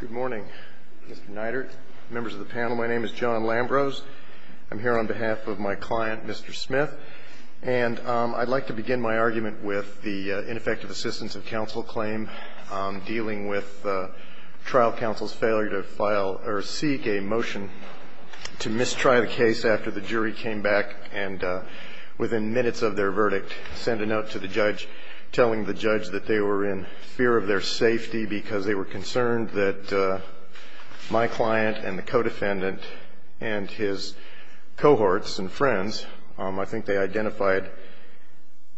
Good morning, Mr. Neidert, members of the panel. My name is John Lambrose. I'm here on behalf of my client, Mr. Smith, and I'd like to begin my argument with the ineffective assistance of counsel claim dealing with trial counsel's failure to file or seek a motion to mistry the case after the jury came back and, within minutes of their verdict, send a note to the judge telling the judge that they were in fear of their safety because they were concerned that my client and the codefendant and his cohorts and friends, I think they identified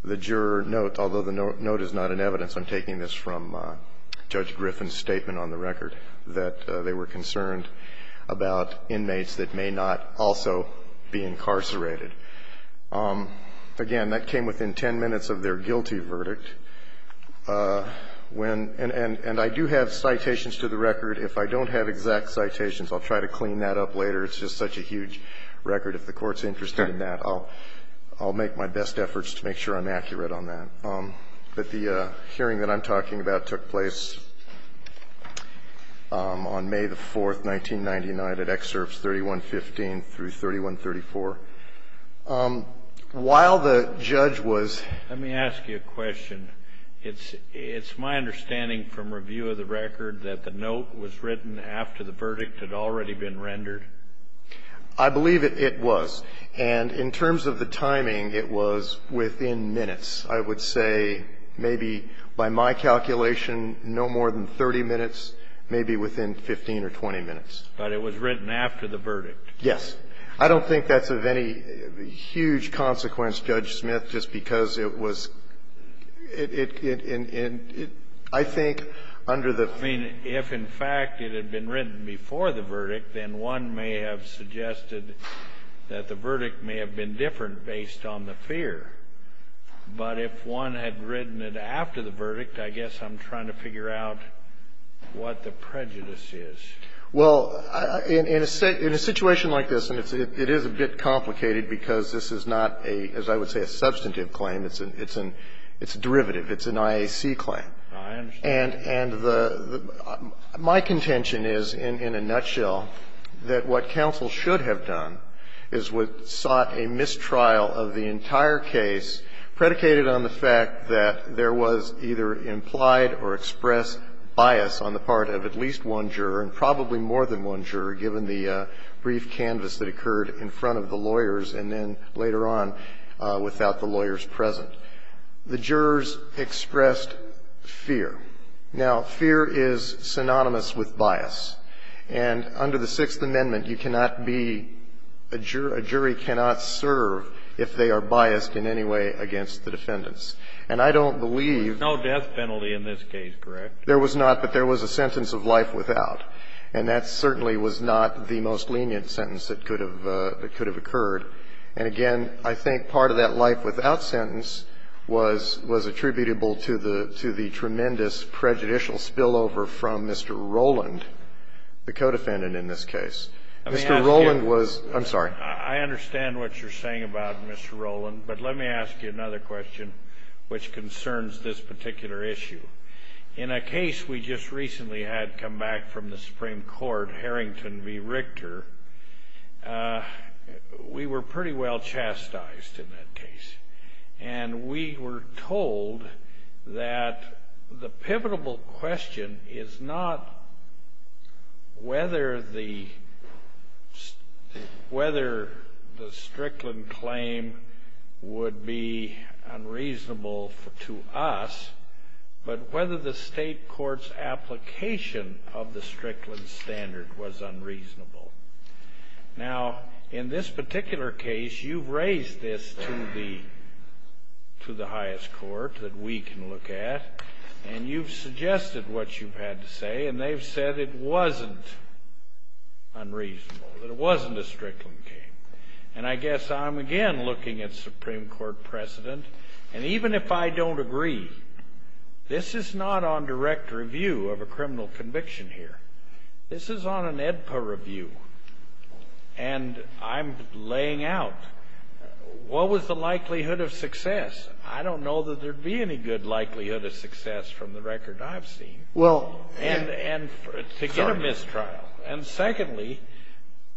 the juror note, although the note is not in evidence, I'm taking this from Judge Griffin's statement on the record, that they were concerned about inmates that may not also be incarcerated. Again, that came within 10 minutes of their guilty verdict. And I do have citations to the record that I think are very useful for me or the record. If I don't have exact citations, I'll try to clean that up later. It's just such a huge record. If the Court's interested in that, I'll make my best efforts to make sure I'm accurate on that. But the hearing that I'm talking about took place on May the 4th, 1999, at Excerpts 3115 through 3134. While the judge was Let me ask you a question. It's my understanding from review of the record that the note was written after the verdict had already been rendered? I believe it was. And in terms of the timing, it was within minutes. I would say maybe by my calculation no more than 30 minutes, maybe within 15 or 20 minutes. But it was written after the verdict? Yes. I don't think that's of any huge consequence, Judge Smith, just because it was – I think under the I mean, if in fact it had been written before the verdict, then one may have suggested that the verdict may have been different based on the fear. But if one had written it after the verdict, I guess I'm trying to figure out what the prejudice is. Well, in a situation like this, and it is a bit complicated because this is not a, as I would say, a substantive claim. It's a derivative. It's an IAC claim. I understand. And my contention is, in a nutshell, that what counsel should have done is sought a mistrial of the entire case predicated on the fact that there was either implied or expressed bias on the part of at least one juror and probably more than one juror, given the brief canvas that occurred in front of the lawyers and then later on without the lawyers present. The jurors expressed fear. Now, fear is synonymous with bias. And under the Sixth Amendment, you cannot be – a jury cannot serve if they are biased in any way against the defendants. And I don't believe – There was no death penalty in this case, correct? There was not, but there was a sentence of life without. And that certainly was not the most lenient sentence that could have occurred. And again, I think part of that life without sentence was attributable to the tremendous prejudicial spillover from Mr. Rowland, the co-defendant in this case. Mr. Rowland was – I'm sorry. I understand what you're saying about Mr. Rowland, but let me ask you another question which concerns this particular issue. In a case we just recently had come back from the Supreme Court, Harrington v. Richter, we were pretty well chastised in that case. And we were told that the pivotal question is not whether the Strickland claim would be unreasonable to us, but whether the state court's application of the Strickland standard was unreasonable. Now, in this particular case, you've raised this to the highest court that we can look at, and you've suggested what you've had to say, and they've said it wasn't unreasonable, that it wasn't a Strickland claim. And I guess I'm again looking at Supreme Court precedent, and even if I don't agree, this is not on direct review of a criminal conviction here. This is on an AEDPA review, and I'm laying out what was the likelihood of success. I don't know that there'd be any good likelihood of success from the record I've seen. Well – And to get a mistrial. And secondly,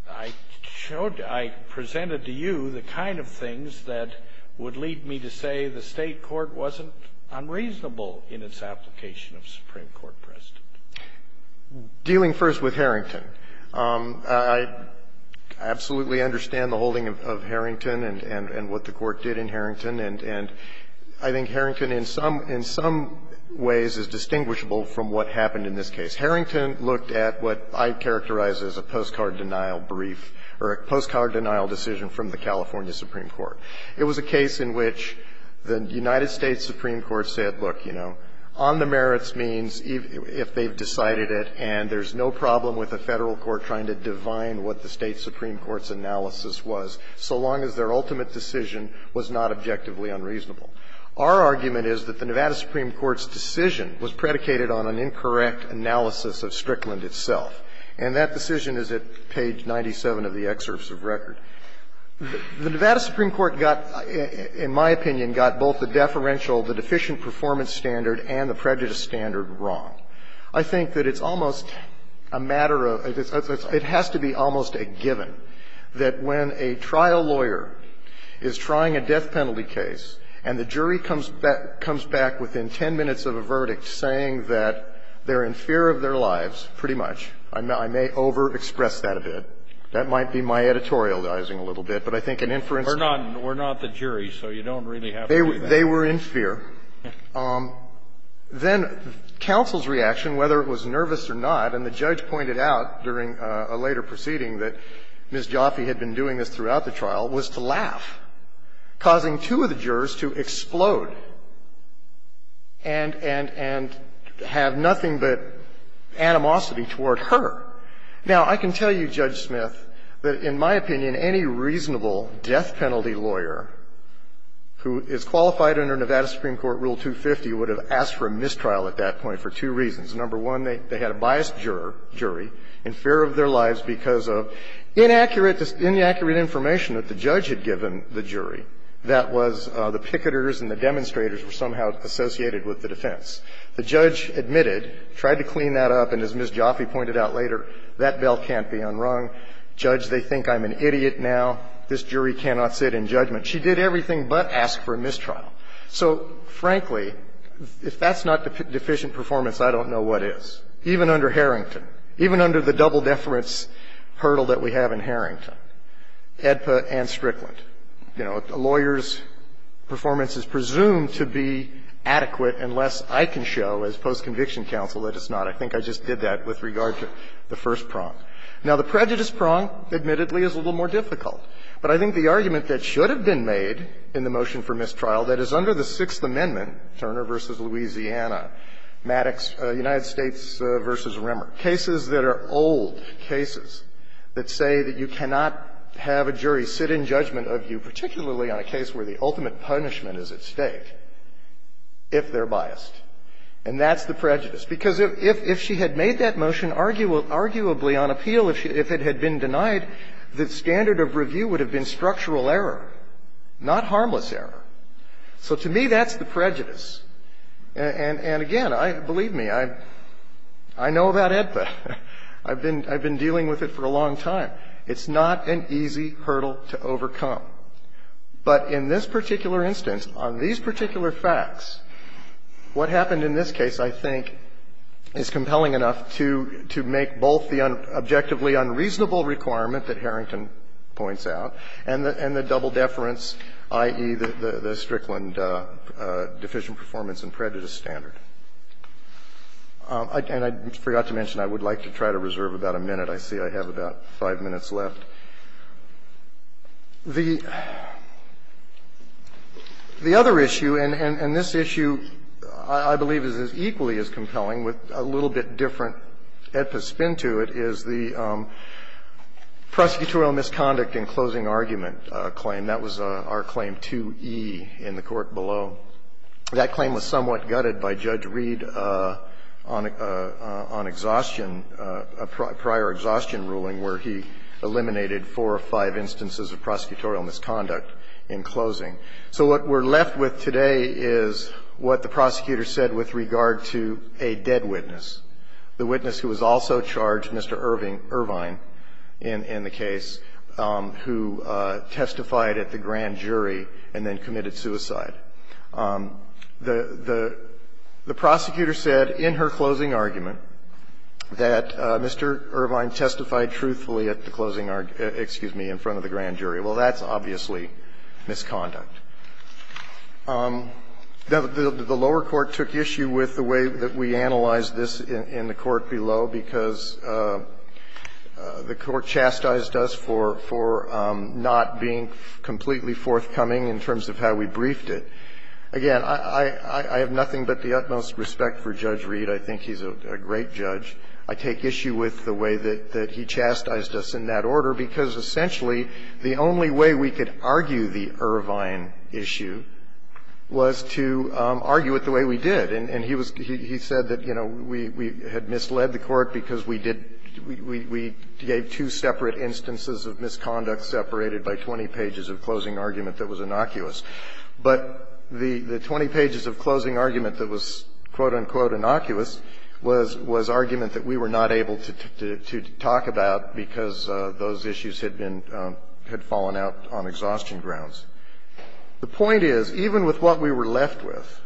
I showed – I presented to you the kind of things that would lead me to say the state court wasn't unreasonable in its application of Supreme Court precedent. Dealing first with Harrington, I absolutely understand the holding of Harrington and what the Court did in Harrington. And I think Harrington in some ways is distinguishable from what happened in this case. Harrington looked at what I'd characterize as a postcard denial brief or a postcard denial decision from the California Supreme Court. It was a case in which the United States Supreme Court said, look, you know, on the merits means if they've decided it and there's no problem with the Federal Court trying to divine what the State Supreme Court's analysis was, so long as their ultimate decision was not objectively unreasonable. Our argument is that the Nevada Supreme Court's decision was predicated on an incorrect analysis of Strickland itself. And that decision is at page 97 of the excerpts of record. The Nevada Supreme Court got, in my opinion, got both the deferential, the deficient performance standard and the prejudice standard wrong. I think that it's almost a matter of – it has to be almost a given that when a trial lawyer is trying a death sentence, they come back within 10 minutes of a verdict saying that they're in fear of their lives, pretty much. I may overexpress that a bit. That might be my editorializing a little bit, but I think an inference can be made. Kennedy. We're not the jury, so you don't really have to do that. They were in fear. Then counsel's reaction, whether it was nervous or not, and the judge pointed out during a later proceeding that Ms. Jaffe had been doing this throughout the trial, was to laugh, causing two of the jurors to explode and – and – and have nothing but animosity toward her. Now, I can tell you, Judge Smith, that in my opinion, any reasonable death penalty lawyer who is qualified under Nevada Supreme Court Rule 250 would have asked for a mistrial at that point for two reasons. Number one, they had a biased jury in fear of their lives because of inaccurate – inaccurate information that the judge had given the jury that was the picketers and the demonstrators were somehow associated with the defense. The judge admitted, tried to clean that up, and as Ms. Jaffe pointed out later, that bell can't be unrung. Judge, they think I'm an idiot now. This jury cannot sit in judgment. She did everything but ask for a mistrial. So, frankly, if that's not deficient performance, I don't know what is, even under Harrington, even under the double-deference hurdle that we have in Harrington, AEDPA and Strickland. You know, a lawyer's performance is presumed to be adequate unless I can show as post-conviction counsel that it's not. I think I just did that with regard to the first prong. Now, the prejudice prong, admittedly, is a little more difficult. But I think the argument that should have been made in the motion for mistrial, that is under the Sixth Amendment, Turner v. Louisiana, Maddox, United States v. Remmer, cases that are old cases that say that you cannot have a jury sit in judgment of you, particularly on a case where the ultimate punishment is at stake, if they're biased. And that's the prejudice. Because if she had made that motion arguably on appeal, if it had been denied, the standard of review would have been structural error, not harmless error. So to me, that's the prejudice. And again, I – believe me, I know about AEDPA. I've been dealing with it for a long time. It's not an easy hurdle to overcome. But in this particular instance, on these particular facts, what happened in this case, I think, is compelling enough to make both the unverified objectively unreasonable requirement that Harrington points out and the double deference, i.e., the Strickland deficient performance and prejudice standard. And I forgot to mention, I would like to try to reserve about a minute. I see I have about five minutes left. The other issue, and this issue, I believe, is equally as compelling with a little bit different AEDPA spin to it, is that the prosecutorial misconduct in closing argument claim, that was our Claim 2e in the court below. That claim was somewhat gutted by Judge Reed on exhaustion, prior exhaustion ruling, where he eliminated four or five instances of prosecutorial misconduct in closing. So what we're left with today is what the prosecutor said with regard to a dead witness, the witness who was also charged, Mr. Irvine, in the case, who testified at the grand jury and then committed suicide. The prosecutor said in her closing argument that Mr. Irvine testified truthfully at the closing argument, excuse me, in front of the grand jury. Well, that's obviously misconduct. Now, the lower court took issue with the way that we analyzed this in the court below, because the court chastised us for not being completely forthcoming in terms of how we briefed it. Again, I have nothing but the utmost respect for Judge Reed. I think he's a great judge. I take issue with the way that he chastised us in that order, because, essentially, the only way we could argue the Irvine issue was to argue it the way we did. And he said that, you know, we had misled the court because we did we gave two separate instances of misconduct separated by 20 pages of closing argument that was innocuous. But the 20 pages of closing argument that was, quote, unquote, innocuous was argument that we were not able to talk about because those issues had been had fallen out on exhaustion grounds. The point is, even with what we were left with,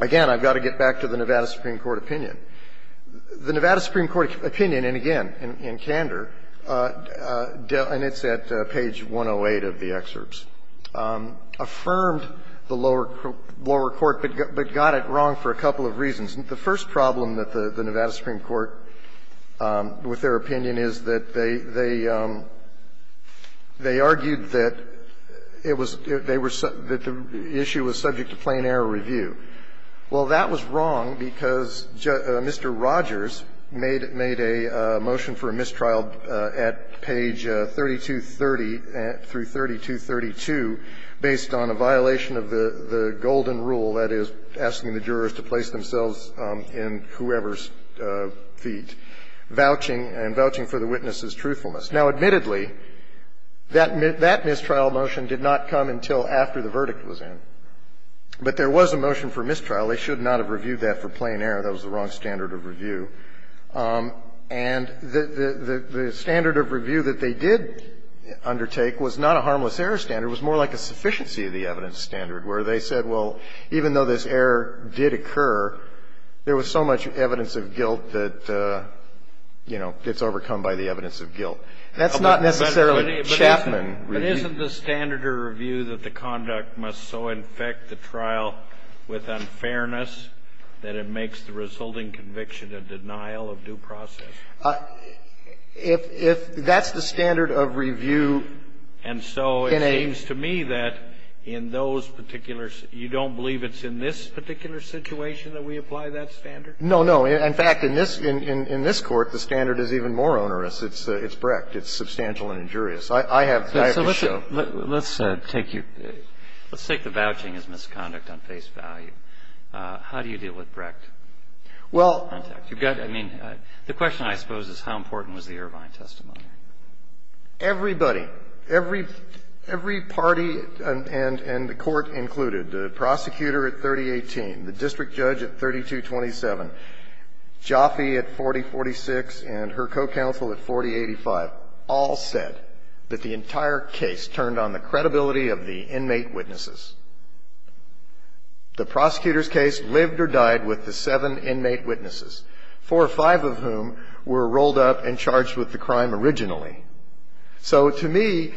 again, I've got to get back to the Nevada Supreme Court opinion. The Nevada Supreme Court opinion, and again, in candor, and it's at page 108 of the excerpts, affirmed the lower court, but got it wrong for a couple of reasons. The first problem that the Nevada Supreme Court, with their opinion, is that they argued that it was they were that the issue was subject to plain-error review. Well, that was wrong because Mr. Rogers made a motion for a mistrial at page 3230 through 3232 based on a violation of the golden rule, that is, asking the jurors to place themselves in whoever's feet, vouching, and vouching for the witness's truthfulness. Now, admittedly, that mistrial motion did not come until after the verdict was in. But there was a motion for mistrial. They should not have reviewed that for plain error. That was the wrong standard of review. And the standard of review that they did undertake was not a harmless error standard. It was more like a sufficiency of the evidence standard, where they said, well, even though this error did occur, there was so much evidence of guilt that, you know, it's overcome by the evidence of guilt. That's not necessarily Chapman review. But isn't the standard of review that the conduct must so infect the trial with unfairness that it makes the resulting conviction a denial of due process? If that's the standard of review in a And so it seems to me that in those particular you don't believe it's in this particular situation that we apply that standard? No, no. In fact, in this Court, the standard is even more onerous. It's Brecht. It's substantial and injurious. I have to show. Let's take the vouching as misconduct on face value. How do you deal with Brecht? Well, I mean, the question, I suppose, is how important was the Irvine testimony? Everybody, every party and the Court included, the prosecutor at 3018, the district judge at 3227, Jaffe at 4046, and her co-counsel at 4085 all said that the entire case turned on the credibility of the inmate witnesses. The prosecutor's case lived or died with the seven inmate witnesses, four or five of whom were rolled up and charged with the crime originally. So to me,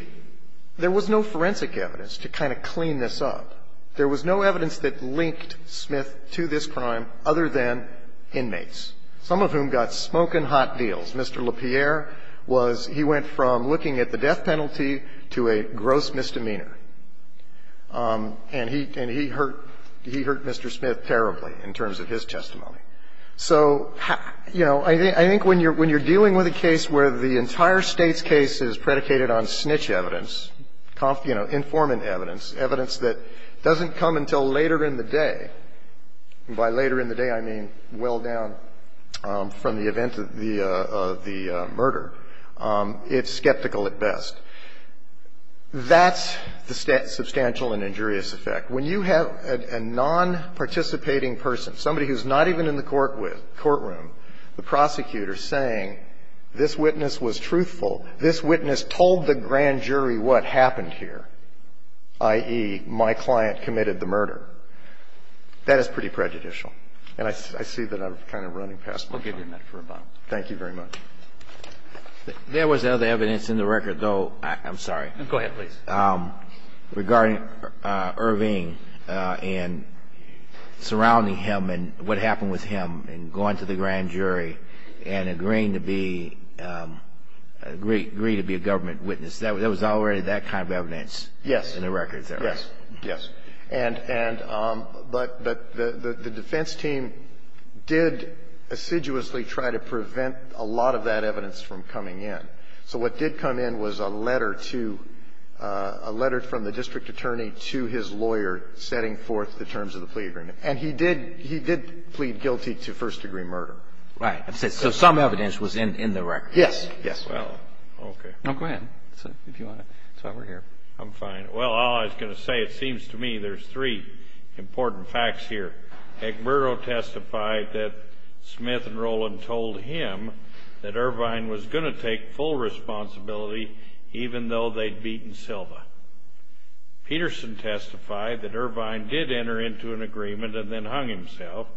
there was no forensic evidence to kind of clean this up. There was no evidence that linked Smith to this crime other than inmates, some of whom got smoking hot deals. Mr. LaPierre was he went from looking at the death penalty to a gross misdemeanor. And he hurt Mr. Smith terribly in terms of his testimony. So, you know, I think when you're dealing with a case where the entire State's case is predicated on snitch evidence, you know, informant evidence, evidence that doesn't come until later in the day, and by later in the day, I mean well down from the event of the murder, it's skeptical at best. That's the substantial and injurious effect. When you have a nonparticipating person, somebody who's not even in the courtroom, the prosecutor saying this witness was truthful, this witness told the grand jury what happened here, i.e., my client committed the murder, that is pretty prejudicial. And I see that I'm kind of running past my time. Thank you very much. There was other evidence in the record, though, I'm sorry. Go ahead, please. Regarding Irving and surrounding him and what happened with him and going to the grand jury and agreeing to be a government witness, there was already that kind of evidence in the record, sir. Yes. Yes. And but the defense team did assiduously try to prevent a lot of that evidence from coming in. So what did come in was a letter to a letter from the district attorney to his lawyer setting forth the terms of the plea agreement. And he did plead guilty to first-degree murder. Right. So some evidence was in the record. Yes. Yes. Well, okay. No, go ahead, sir, if you want to. That's why we're here. I'm fine. Well, all I was going to say, it seems to me there's three important facts here. Egberto testified that Smith and Roland told him that Irvine was going to take full responsibility even though they'd beaten Silva. Peterson testified that Irvine did enter into an agreement and then hung himself.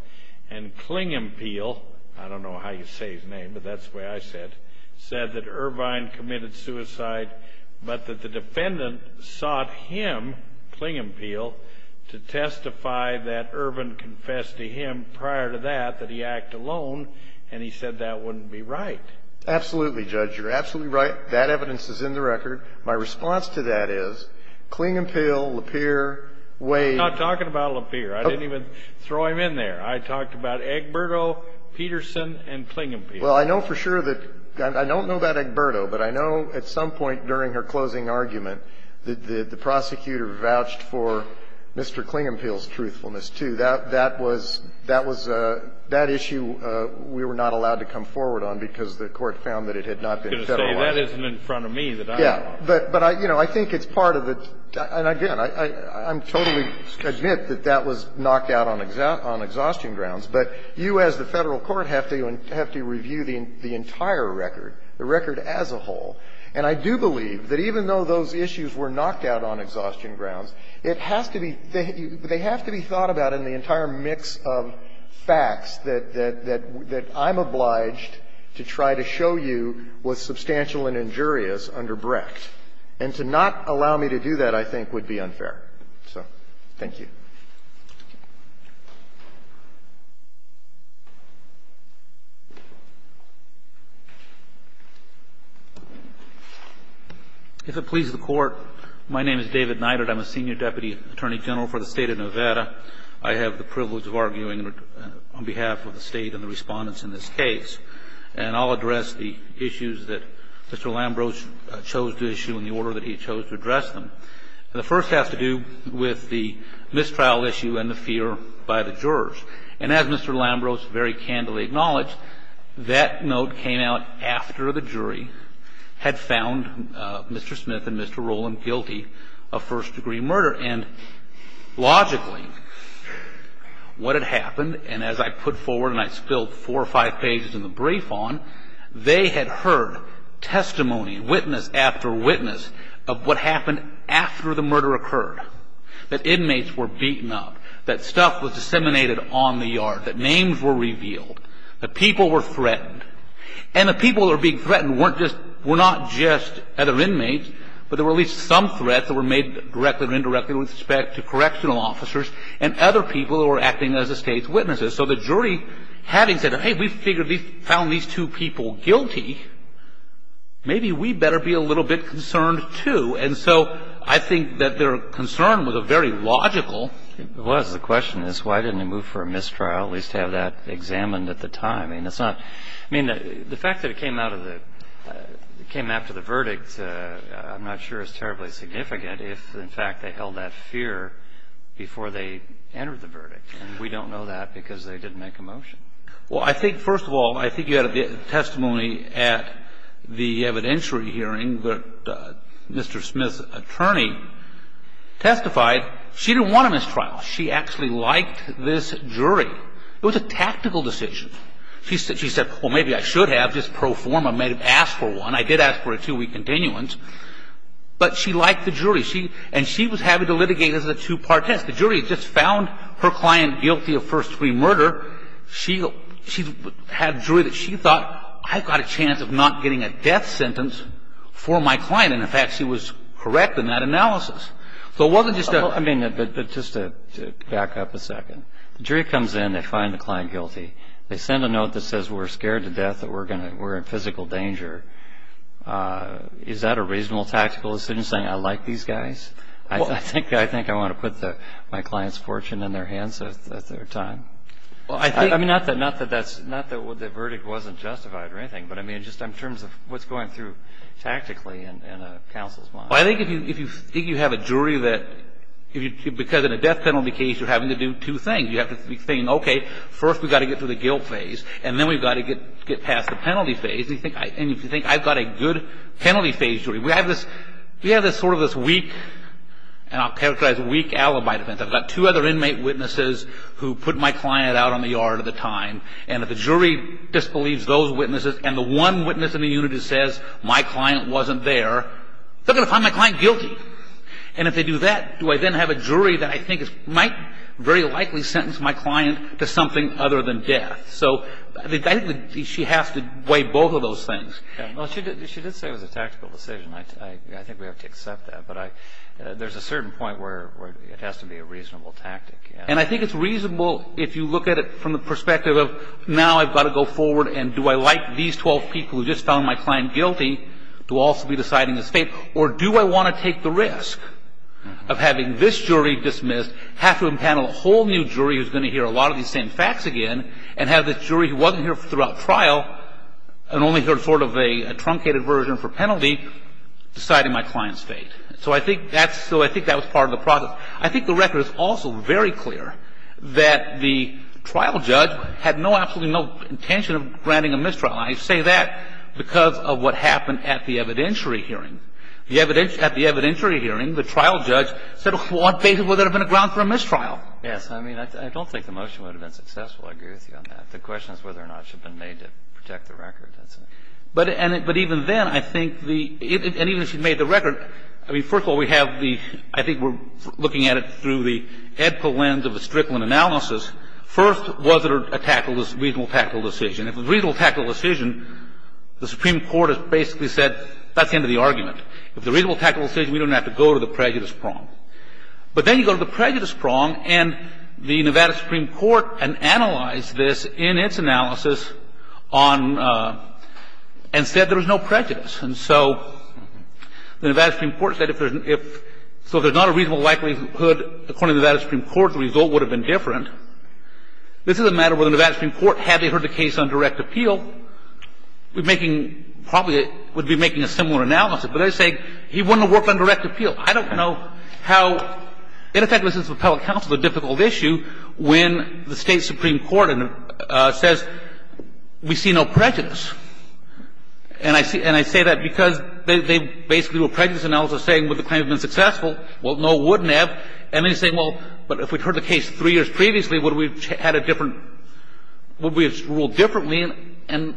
And Klingempiel, I don't know how you say his name, but that's the way I said, said that Irvine committed suicide, but that the defendant sought him, Klingempiel, to testify that Irvine confessed to him prior to that that he acted alone, and he said that wouldn't be right. Absolutely, Judge. You're absolutely right. That evidence is in the record. My response to that is Klingempiel, Lapeer, Wade. I'm not talking about Lapeer. I didn't even throw him in there. I talked about Egberto, Peterson, and Klingempiel. Well, I know for sure that – I don't know about Egberto, but I know at some point during her closing argument that the prosecutor vouched for Mr. Klingempiel's truthfulness, too. That was – that issue we were not allowed to come forward on because the court found that it had not been federalized. Well, that isn't in front of me that I know of. Yeah. But, you know, I think it's part of the – and again, I'm totally admit that that was knocked out on exhaustion grounds, but you as the Federal court have to review the entire record, the record as a whole. And I do believe that even though those issues were knocked out on exhaustion grounds, it has to be – they have to be thought about in the entire mix of facts that – that I'm obliged to try to show you was substantial and injurious under Brecht. And to not allow me to do that, I think, would be unfair. So thank you. If it pleases the Court, my name is David Neidert. I'm a senior deputy attorney general for the State of Nevada. I have the privilege of arguing on behalf of the State and the respondents in this case. And I'll address the issues that Mr. Lambrose chose to issue in the order that he chose to address them. The first has to do with the mistrial issue and the fear by the jurors. And as Mr. Lambrose very candidly acknowledged, that note came out after the jury had found Mr. Smith and Mr. Rowland guilty of first-degree murder. And logically, what had happened, and as I put forward and I spilled four or five pages in the brief on, they had heard testimony, witness after witness, of what happened after the murder occurred. That inmates were beaten up. That stuff was disseminated on the yard. That names were revealed. That people were threatened. And the people that were being threatened weren't just – were not just other inmates, but there were at least some threats that were made directly or indirectly with respect to correctional officers and other people who were acting as the State's witnesses. So the jury, having said, hey, we figured we found these two people guilty, maybe we better be a little bit concerned, too. And so I think that their concern was a very logical – It was. The question is, why didn't they move for a mistrial, at least have that examined at the time? I mean, it's not – I mean, the fact that it came out of the – it came after the murder, I'm not sure it's terribly significant if, in fact, they held that fear before they entered the verdict. And we don't know that because they didn't make a motion. Well, I think, first of all, I think you had testimony at the evidentiary hearing that Mr. Smith's attorney testified she didn't want a mistrial. She actually liked this jury. It was a tactical decision. She said, well, maybe I should have, just pro forma, may have asked for one. And I did ask for a two-week continuance. But she liked the jury. And she was happy to litigate as a two-part test. The jury just found her client guilty of first-degree murder. She had a jury that she thought, I've got a chance of not getting a death sentence for my client. And, in fact, she was correct in that analysis. So it wasn't just a – I mean, but just to back up a second. The jury comes in, they find the client guilty. They send a note that says we're scared to death, that we're in physical danger. Is that a reasonable tactical decision, saying I like these guys? I think I want to put my client's fortune in their hands at their time. I mean, not that that's – not that the verdict wasn't justified or anything. But, I mean, just in terms of what's going through tactically in a counsel's mind. Well, I think if you have a jury that – because in a death penalty case, you're having to do two things. You have to be saying, okay, first we've got to get through the guilt phase, and then we've got to get past the penalty phase. And you think, I've got a good penalty phase jury. We have this sort of this weak – and I'll characterize weak alibi defense. I've got two other inmate witnesses who put my client out on the yard at the time. And if the jury disbelieves those witnesses, and the one witness in the unit who says my client wasn't there, they're going to find my client guilty. And if they do that, do I then have a jury that I think might very likely sentence my client to something other than death? So I think she has to weigh both of those things. Well, she did say it was a tactical decision. I think we have to accept that. But there's a certain point where it has to be a reasonable tactic. And I think it's reasonable if you look at it from the perspective of now I've got to go forward and do I like these 12 people who just found my client guilty to also be deciding the state? Or do I want to take the risk of having this jury dismissed, have to impanel a whole new jury who's going to hear a lot of these same facts again, and have this jury who wasn't here throughout trial and only heard sort of a truncated version for penalty deciding my client's fate? So I think that was part of the process. I think the record is also very clear that the trial judge had no absolute intention of granting a mistrial. And I say that because of what happened at the evidentiary hearing. At the evidentiary hearing, the trial judge said, well, basically there would have been a ground for a mistrial. Yes. I mean, I don't think the motion would have been successful. I agree with you on that. The question is whether or not it should have been made to protect the record. But even then, I think the – and even if she made the record, I mean, first of all, we have the – I think we're looking at it through the EDPA lens of the Strickland analysis. First, was it a reasonable tactical decision? If it was a reasonable tactical decision, the Supreme Court has basically said that's the end of the argument. If it's a reasonable tactical decision, we don't have to go to the prejudice prong. But then you go to the prejudice prong, and the Nevada Supreme Court analyzed this in its analysis on – and said there was no prejudice. And so the Nevada Supreme Court said if there's – so if there's not a reasonable likelihood, according to the Nevada Supreme Court, the result would have been different. This is a matter where the Nevada Supreme Court, had they heard the case on direct appeal, would be making – probably would be making a similar analysis. But they're saying he wouldn't have worked on direct appeal. I don't know how – in effect, this is a public counsel, a difficult issue, when the State Supreme Court says we see no prejudice. And I say that because they basically do a prejudice analysis saying would the claim have been successful? Well, no, it wouldn't have. And they say, well, but if we'd heard the case three years previously, would we have had a different – would we have ruled differently? And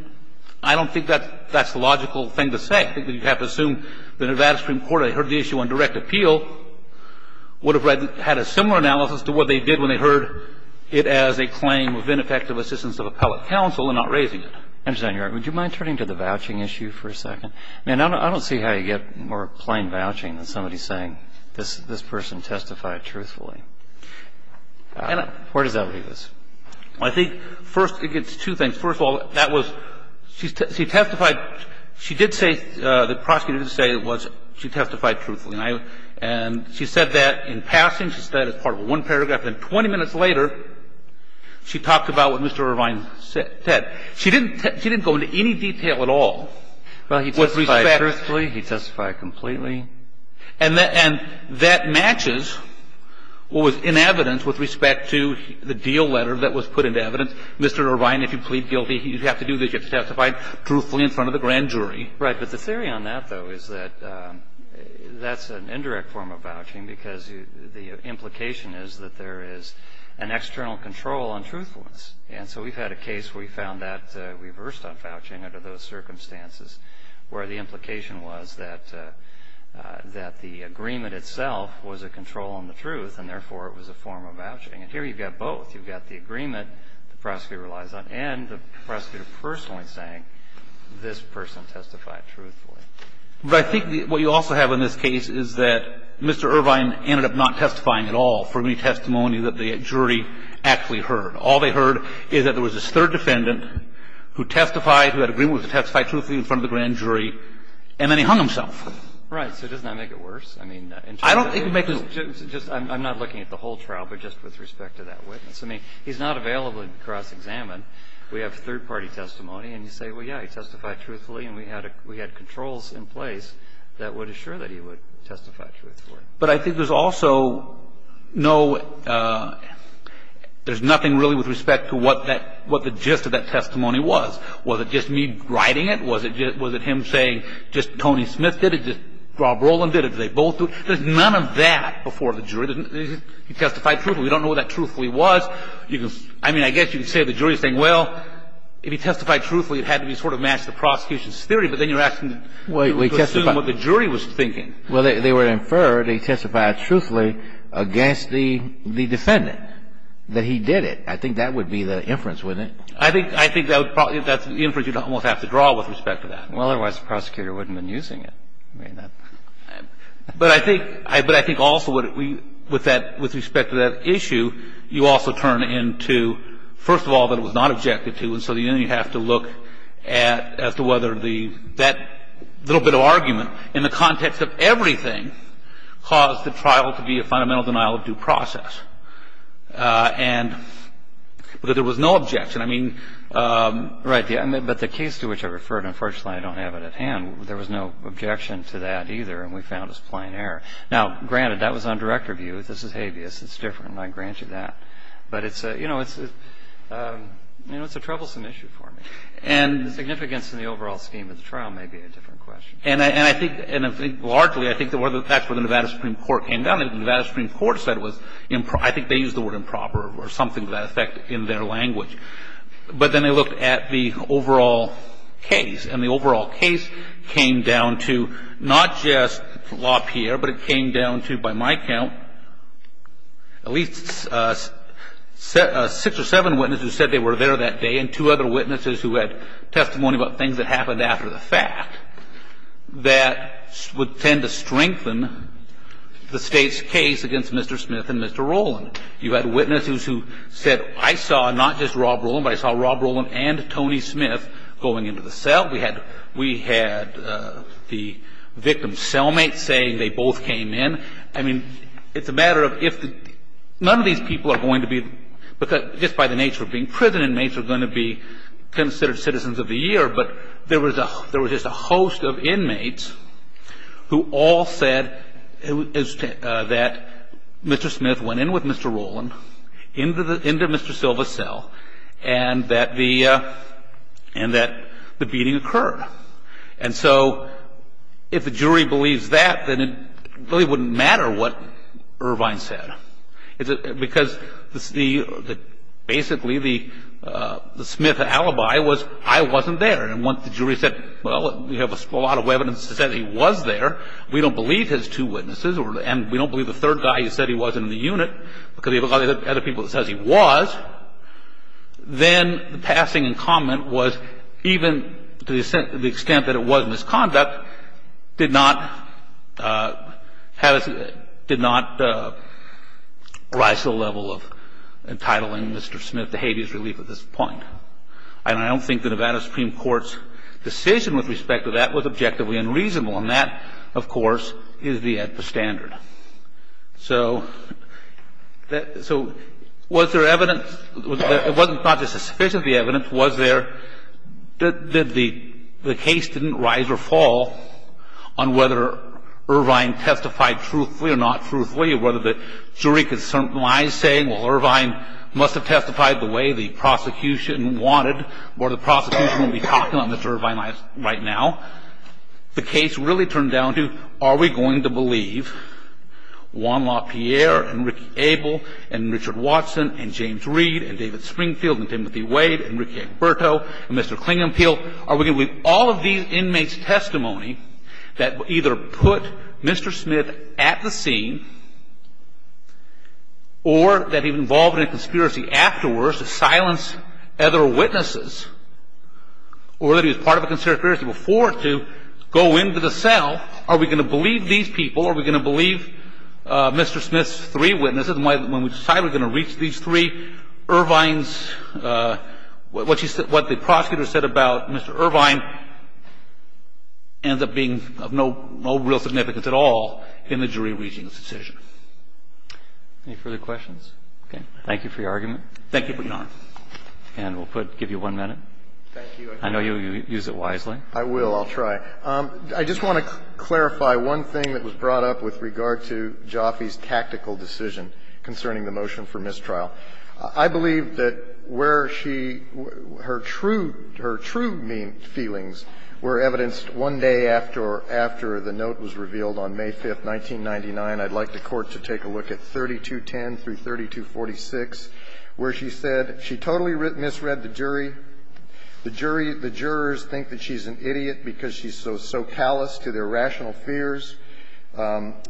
I don't think that's the logical thing to say. I think that you have to assume the Nevada Supreme Court, had they heard the issue on direct appeal, would have had a similar analysis to what they did when they heard it as a claim of ineffective assistance of appellate counsel and not raising it. Kennedy. Would you mind turning to the vouching issue for a second? I mean, I don't see how you get more plain vouching than somebody saying this person testified truthfully. Where does that leave us? I think, first, it gets two things. First of all, that was – she testified – she did say – the prosecutor did say it was she testified truthfully. And she said that in passing. She said it as part of one paragraph. Then 20 minutes later, she talked about what Mr. Irvine said. She didn't go into any detail at all. Well, he testified truthfully. He testified completely. And that matches what was in evidence with respect to the deal letter that was put into evidence. Mr. Irvine, if you plead guilty, you have to do this. You have to testify truthfully in front of the grand jury. Right. But the theory on that, though, is that that's an indirect form of vouching because the implication is that there is an external control on truthfulness. And so we've had a case where we found that reversed on vouching under those circumstances where the implication was that the agreement itself was a control on the truth and therefore it was a form of vouching. And here you've got both. You've got the agreement the prosecutor relies on and the prosecutor personally saying this person testified truthfully. But I think what you also have in this case is that Mr. Irvine ended up not testifying at all for any testimony that the jury actually heard. All they heard is that there was this third defendant who testified, who had an agreement to testify truthfully in front of the grand jury, and then he hung himself. Right. So doesn't that make it worse? I mean, in terms of the rule? I don't think it would make it worse. I'm not looking at the whole trial, but just with respect to that witness. I mean, he's not available to cross-examine. We have third-party testimony, and you say, well, yeah, he testified truthfully and we had controls in place that would assure that he would testify truthfully. But I think there's also no – there's nothing really with respect to what that – what the gist of that testimony was. Was it just me writing it? Was it just – was it him saying just Tony Smith did it, just Rob Roland did it, did they both do it? There's none of that before the jury. He testified truthfully. We don't know what that truthfully was. You can – I mean, I guess you can say the jury is saying, well, if he testified truthfully, it had to be sort of matched to the prosecution's theory, but then you're asking to assume what the jury was thinking. Well, they would infer that he testified truthfully against the defendant, that he did it. I think that would be the inference, wouldn't it? I think – I think that would probably – that's the inference you'd almost have to draw with respect to that. Well, otherwise the prosecutor wouldn't have been using it. I mean, that – But I think – but I think also what we – with that – with respect to that issue, you also turn into, first of all, that it was not objected to, and so then you have to look at – as to whether the – that little bit of argument in the context of everything caused the trial to be a fundamental denial of due process. And – but there was no objection. I mean – Right. But the case to which I referred, unfortunately, I don't have it at hand. There was no objection to that either, and we found it was plain error. Now, granted, that was on direct review. This is habeas. It's different, and I grant you that. But it's a – you know, it's a – you know, it's a troublesome issue for me. And – The significance in the overall scheme of the trial may be a different question. And I think – and I think largely I think the – that's where the Nevada Supreme Court came down. The Nevada Supreme Court said it was – I think they used the word improper or something to that effect in their language. But then they looked at the overall case, and the overall case came down to not just LaPierre, but it came down to, by my count, at least six or seven witnesses who said they were there that day, and two other witnesses who had testimony about things that happened after the fact that would tend to strengthen the State's case against Mr. Smith and Mr. Rowland. You had witnesses who said, I saw not just Rob Rowland, but I saw Rob Rowland and Tony Smith going into the cell. We had the victim's cellmates saying they both came in. I mean, it's a matter of if – none of these people are going to be – just by the nature of being prison inmates are going to be considered citizens of the year. But there was just a host of inmates who all said that Mr. Smith went in with Mr. Rowland into Mr. Silva's cell and that the – and that the beating occurred. And so if the jury believes that, then it really wouldn't matter what Irvine said, because the – basically, the Smith alibi was I wasn't there. And once the jury said, well, we have a lot of evidence to say that he was there, we don't believe his two witnesses, and we don't believe the third guy who said he wasn't in the unit because we have a lot of other people that says he was, then the passing and comment was even to the extent that it was misconduct, did not have – did not rise to the level of entitling Mr. Smith to habeas relief at this point. And I don't think the Nevada Supreme Court's decision with respect to that was objectively unreasonable. And that, of course, is the standard. So was there evidence – it wasn't not just sufficient evidence. Was there – did the case didn't rise or fall on whether Irvine testified truthfully or not truthfully, or whether the jury could certainly say, well, Irvine must have testified the way the prosecution wanted or the prosecution would be talking about Mr. Irvine right now. The case really turned down to, are we going to believe Juan LaPierre and Ricky Abel and Richard Watson and James Reed and David Springfield and Timothy Wade and Ricky Egberto and Mr. Klingenpiel? Are we going to believe all of these inmates' testimony that either put Mr. Smith at the scene or that he was involved in a conspiracy afterwards to silence other witnesses or that he was part of a conspiracy before to go into the cell? Are we going to believe these people? Are we going to believe Mr. Smith's three witnesses? And when we decide we're going to reach these three, Irvine's – what the prosecutor said about Mr. Irvine ends up being of no real significance at all in the jury reaching this decision. Any further questions? Okay. Thank you for your argument. Thank you for your Honor. And we'll put – give you one minute. Thank you. I know you'll use it wisely. I will. I'll try. I just want to clarify one thing that was brought up with regard to Jaffe's tactical decision concerning the motion for mistrial. I believe that where she – her true – her true feelings were evidenced one day after the note was revealed on May 5th, 1999. I'd like the Court to take a look at 3210 through 3246, where she said she totally misread the jury. The jury – the jurors think that she's an idiot because she's so callous to their rational fears.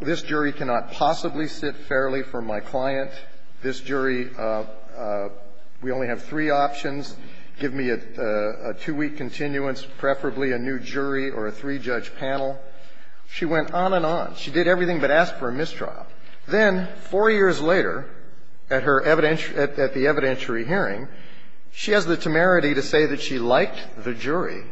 This jury cannot possibly sit fairly for my client. This jury – we only have three options. Give me a two-week continuance, preferably a new jury or a three-judge panel. She went on and on. She did everything but ask for a mistrial. Then four years later at her evident – at the evidentiary hearing, she has the temerity to say that she liked the jury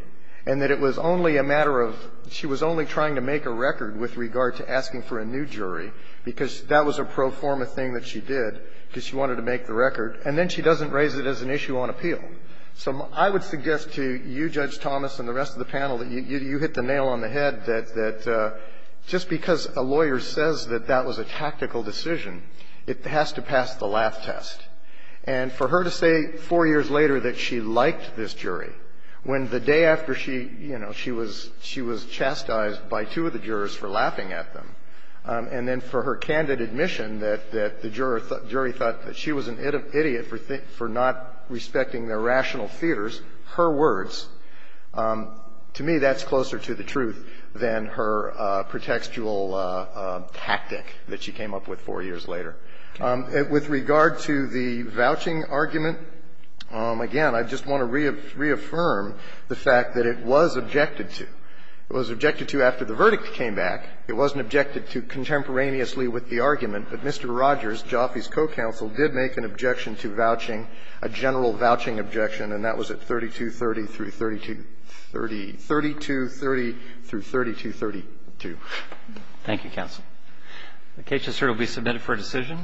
and that it was only a matter of – she was only trying to make a record with regard to asking for a new jury because that was a pro forma thing that she did because she wanted to make the record. And then she doesn't raise it as an issue on appeal. So I would suggest to you, Judge Thomas, and the rest of the panel that you hit the that that was a tactical decision. It has to pass the laugh test. And for her to say four years later that she liked this jury, when the day after she – you know, she was – she was chastised by two of the jurors for laughing at them, and then for her candid admission that the jury thought that she was an idiot for not respecting their rational fears, her words, to me, that's closer to the truth than her pretextual tactic that she came up with four years later. With regard to the vouching argument, again, I just want to reaffirm the fact that it was objected to. It was objected to after the verdict came back. It wasn't objected to contemporaneously with the argument, but Mr. Rogers, Jaffe's co-counsel, did make an objection to vouching, a general vouching objection, and that was at 3230 through 3230 – 3230 through 3232. Thank you, counsel. The case will be submitted for decision.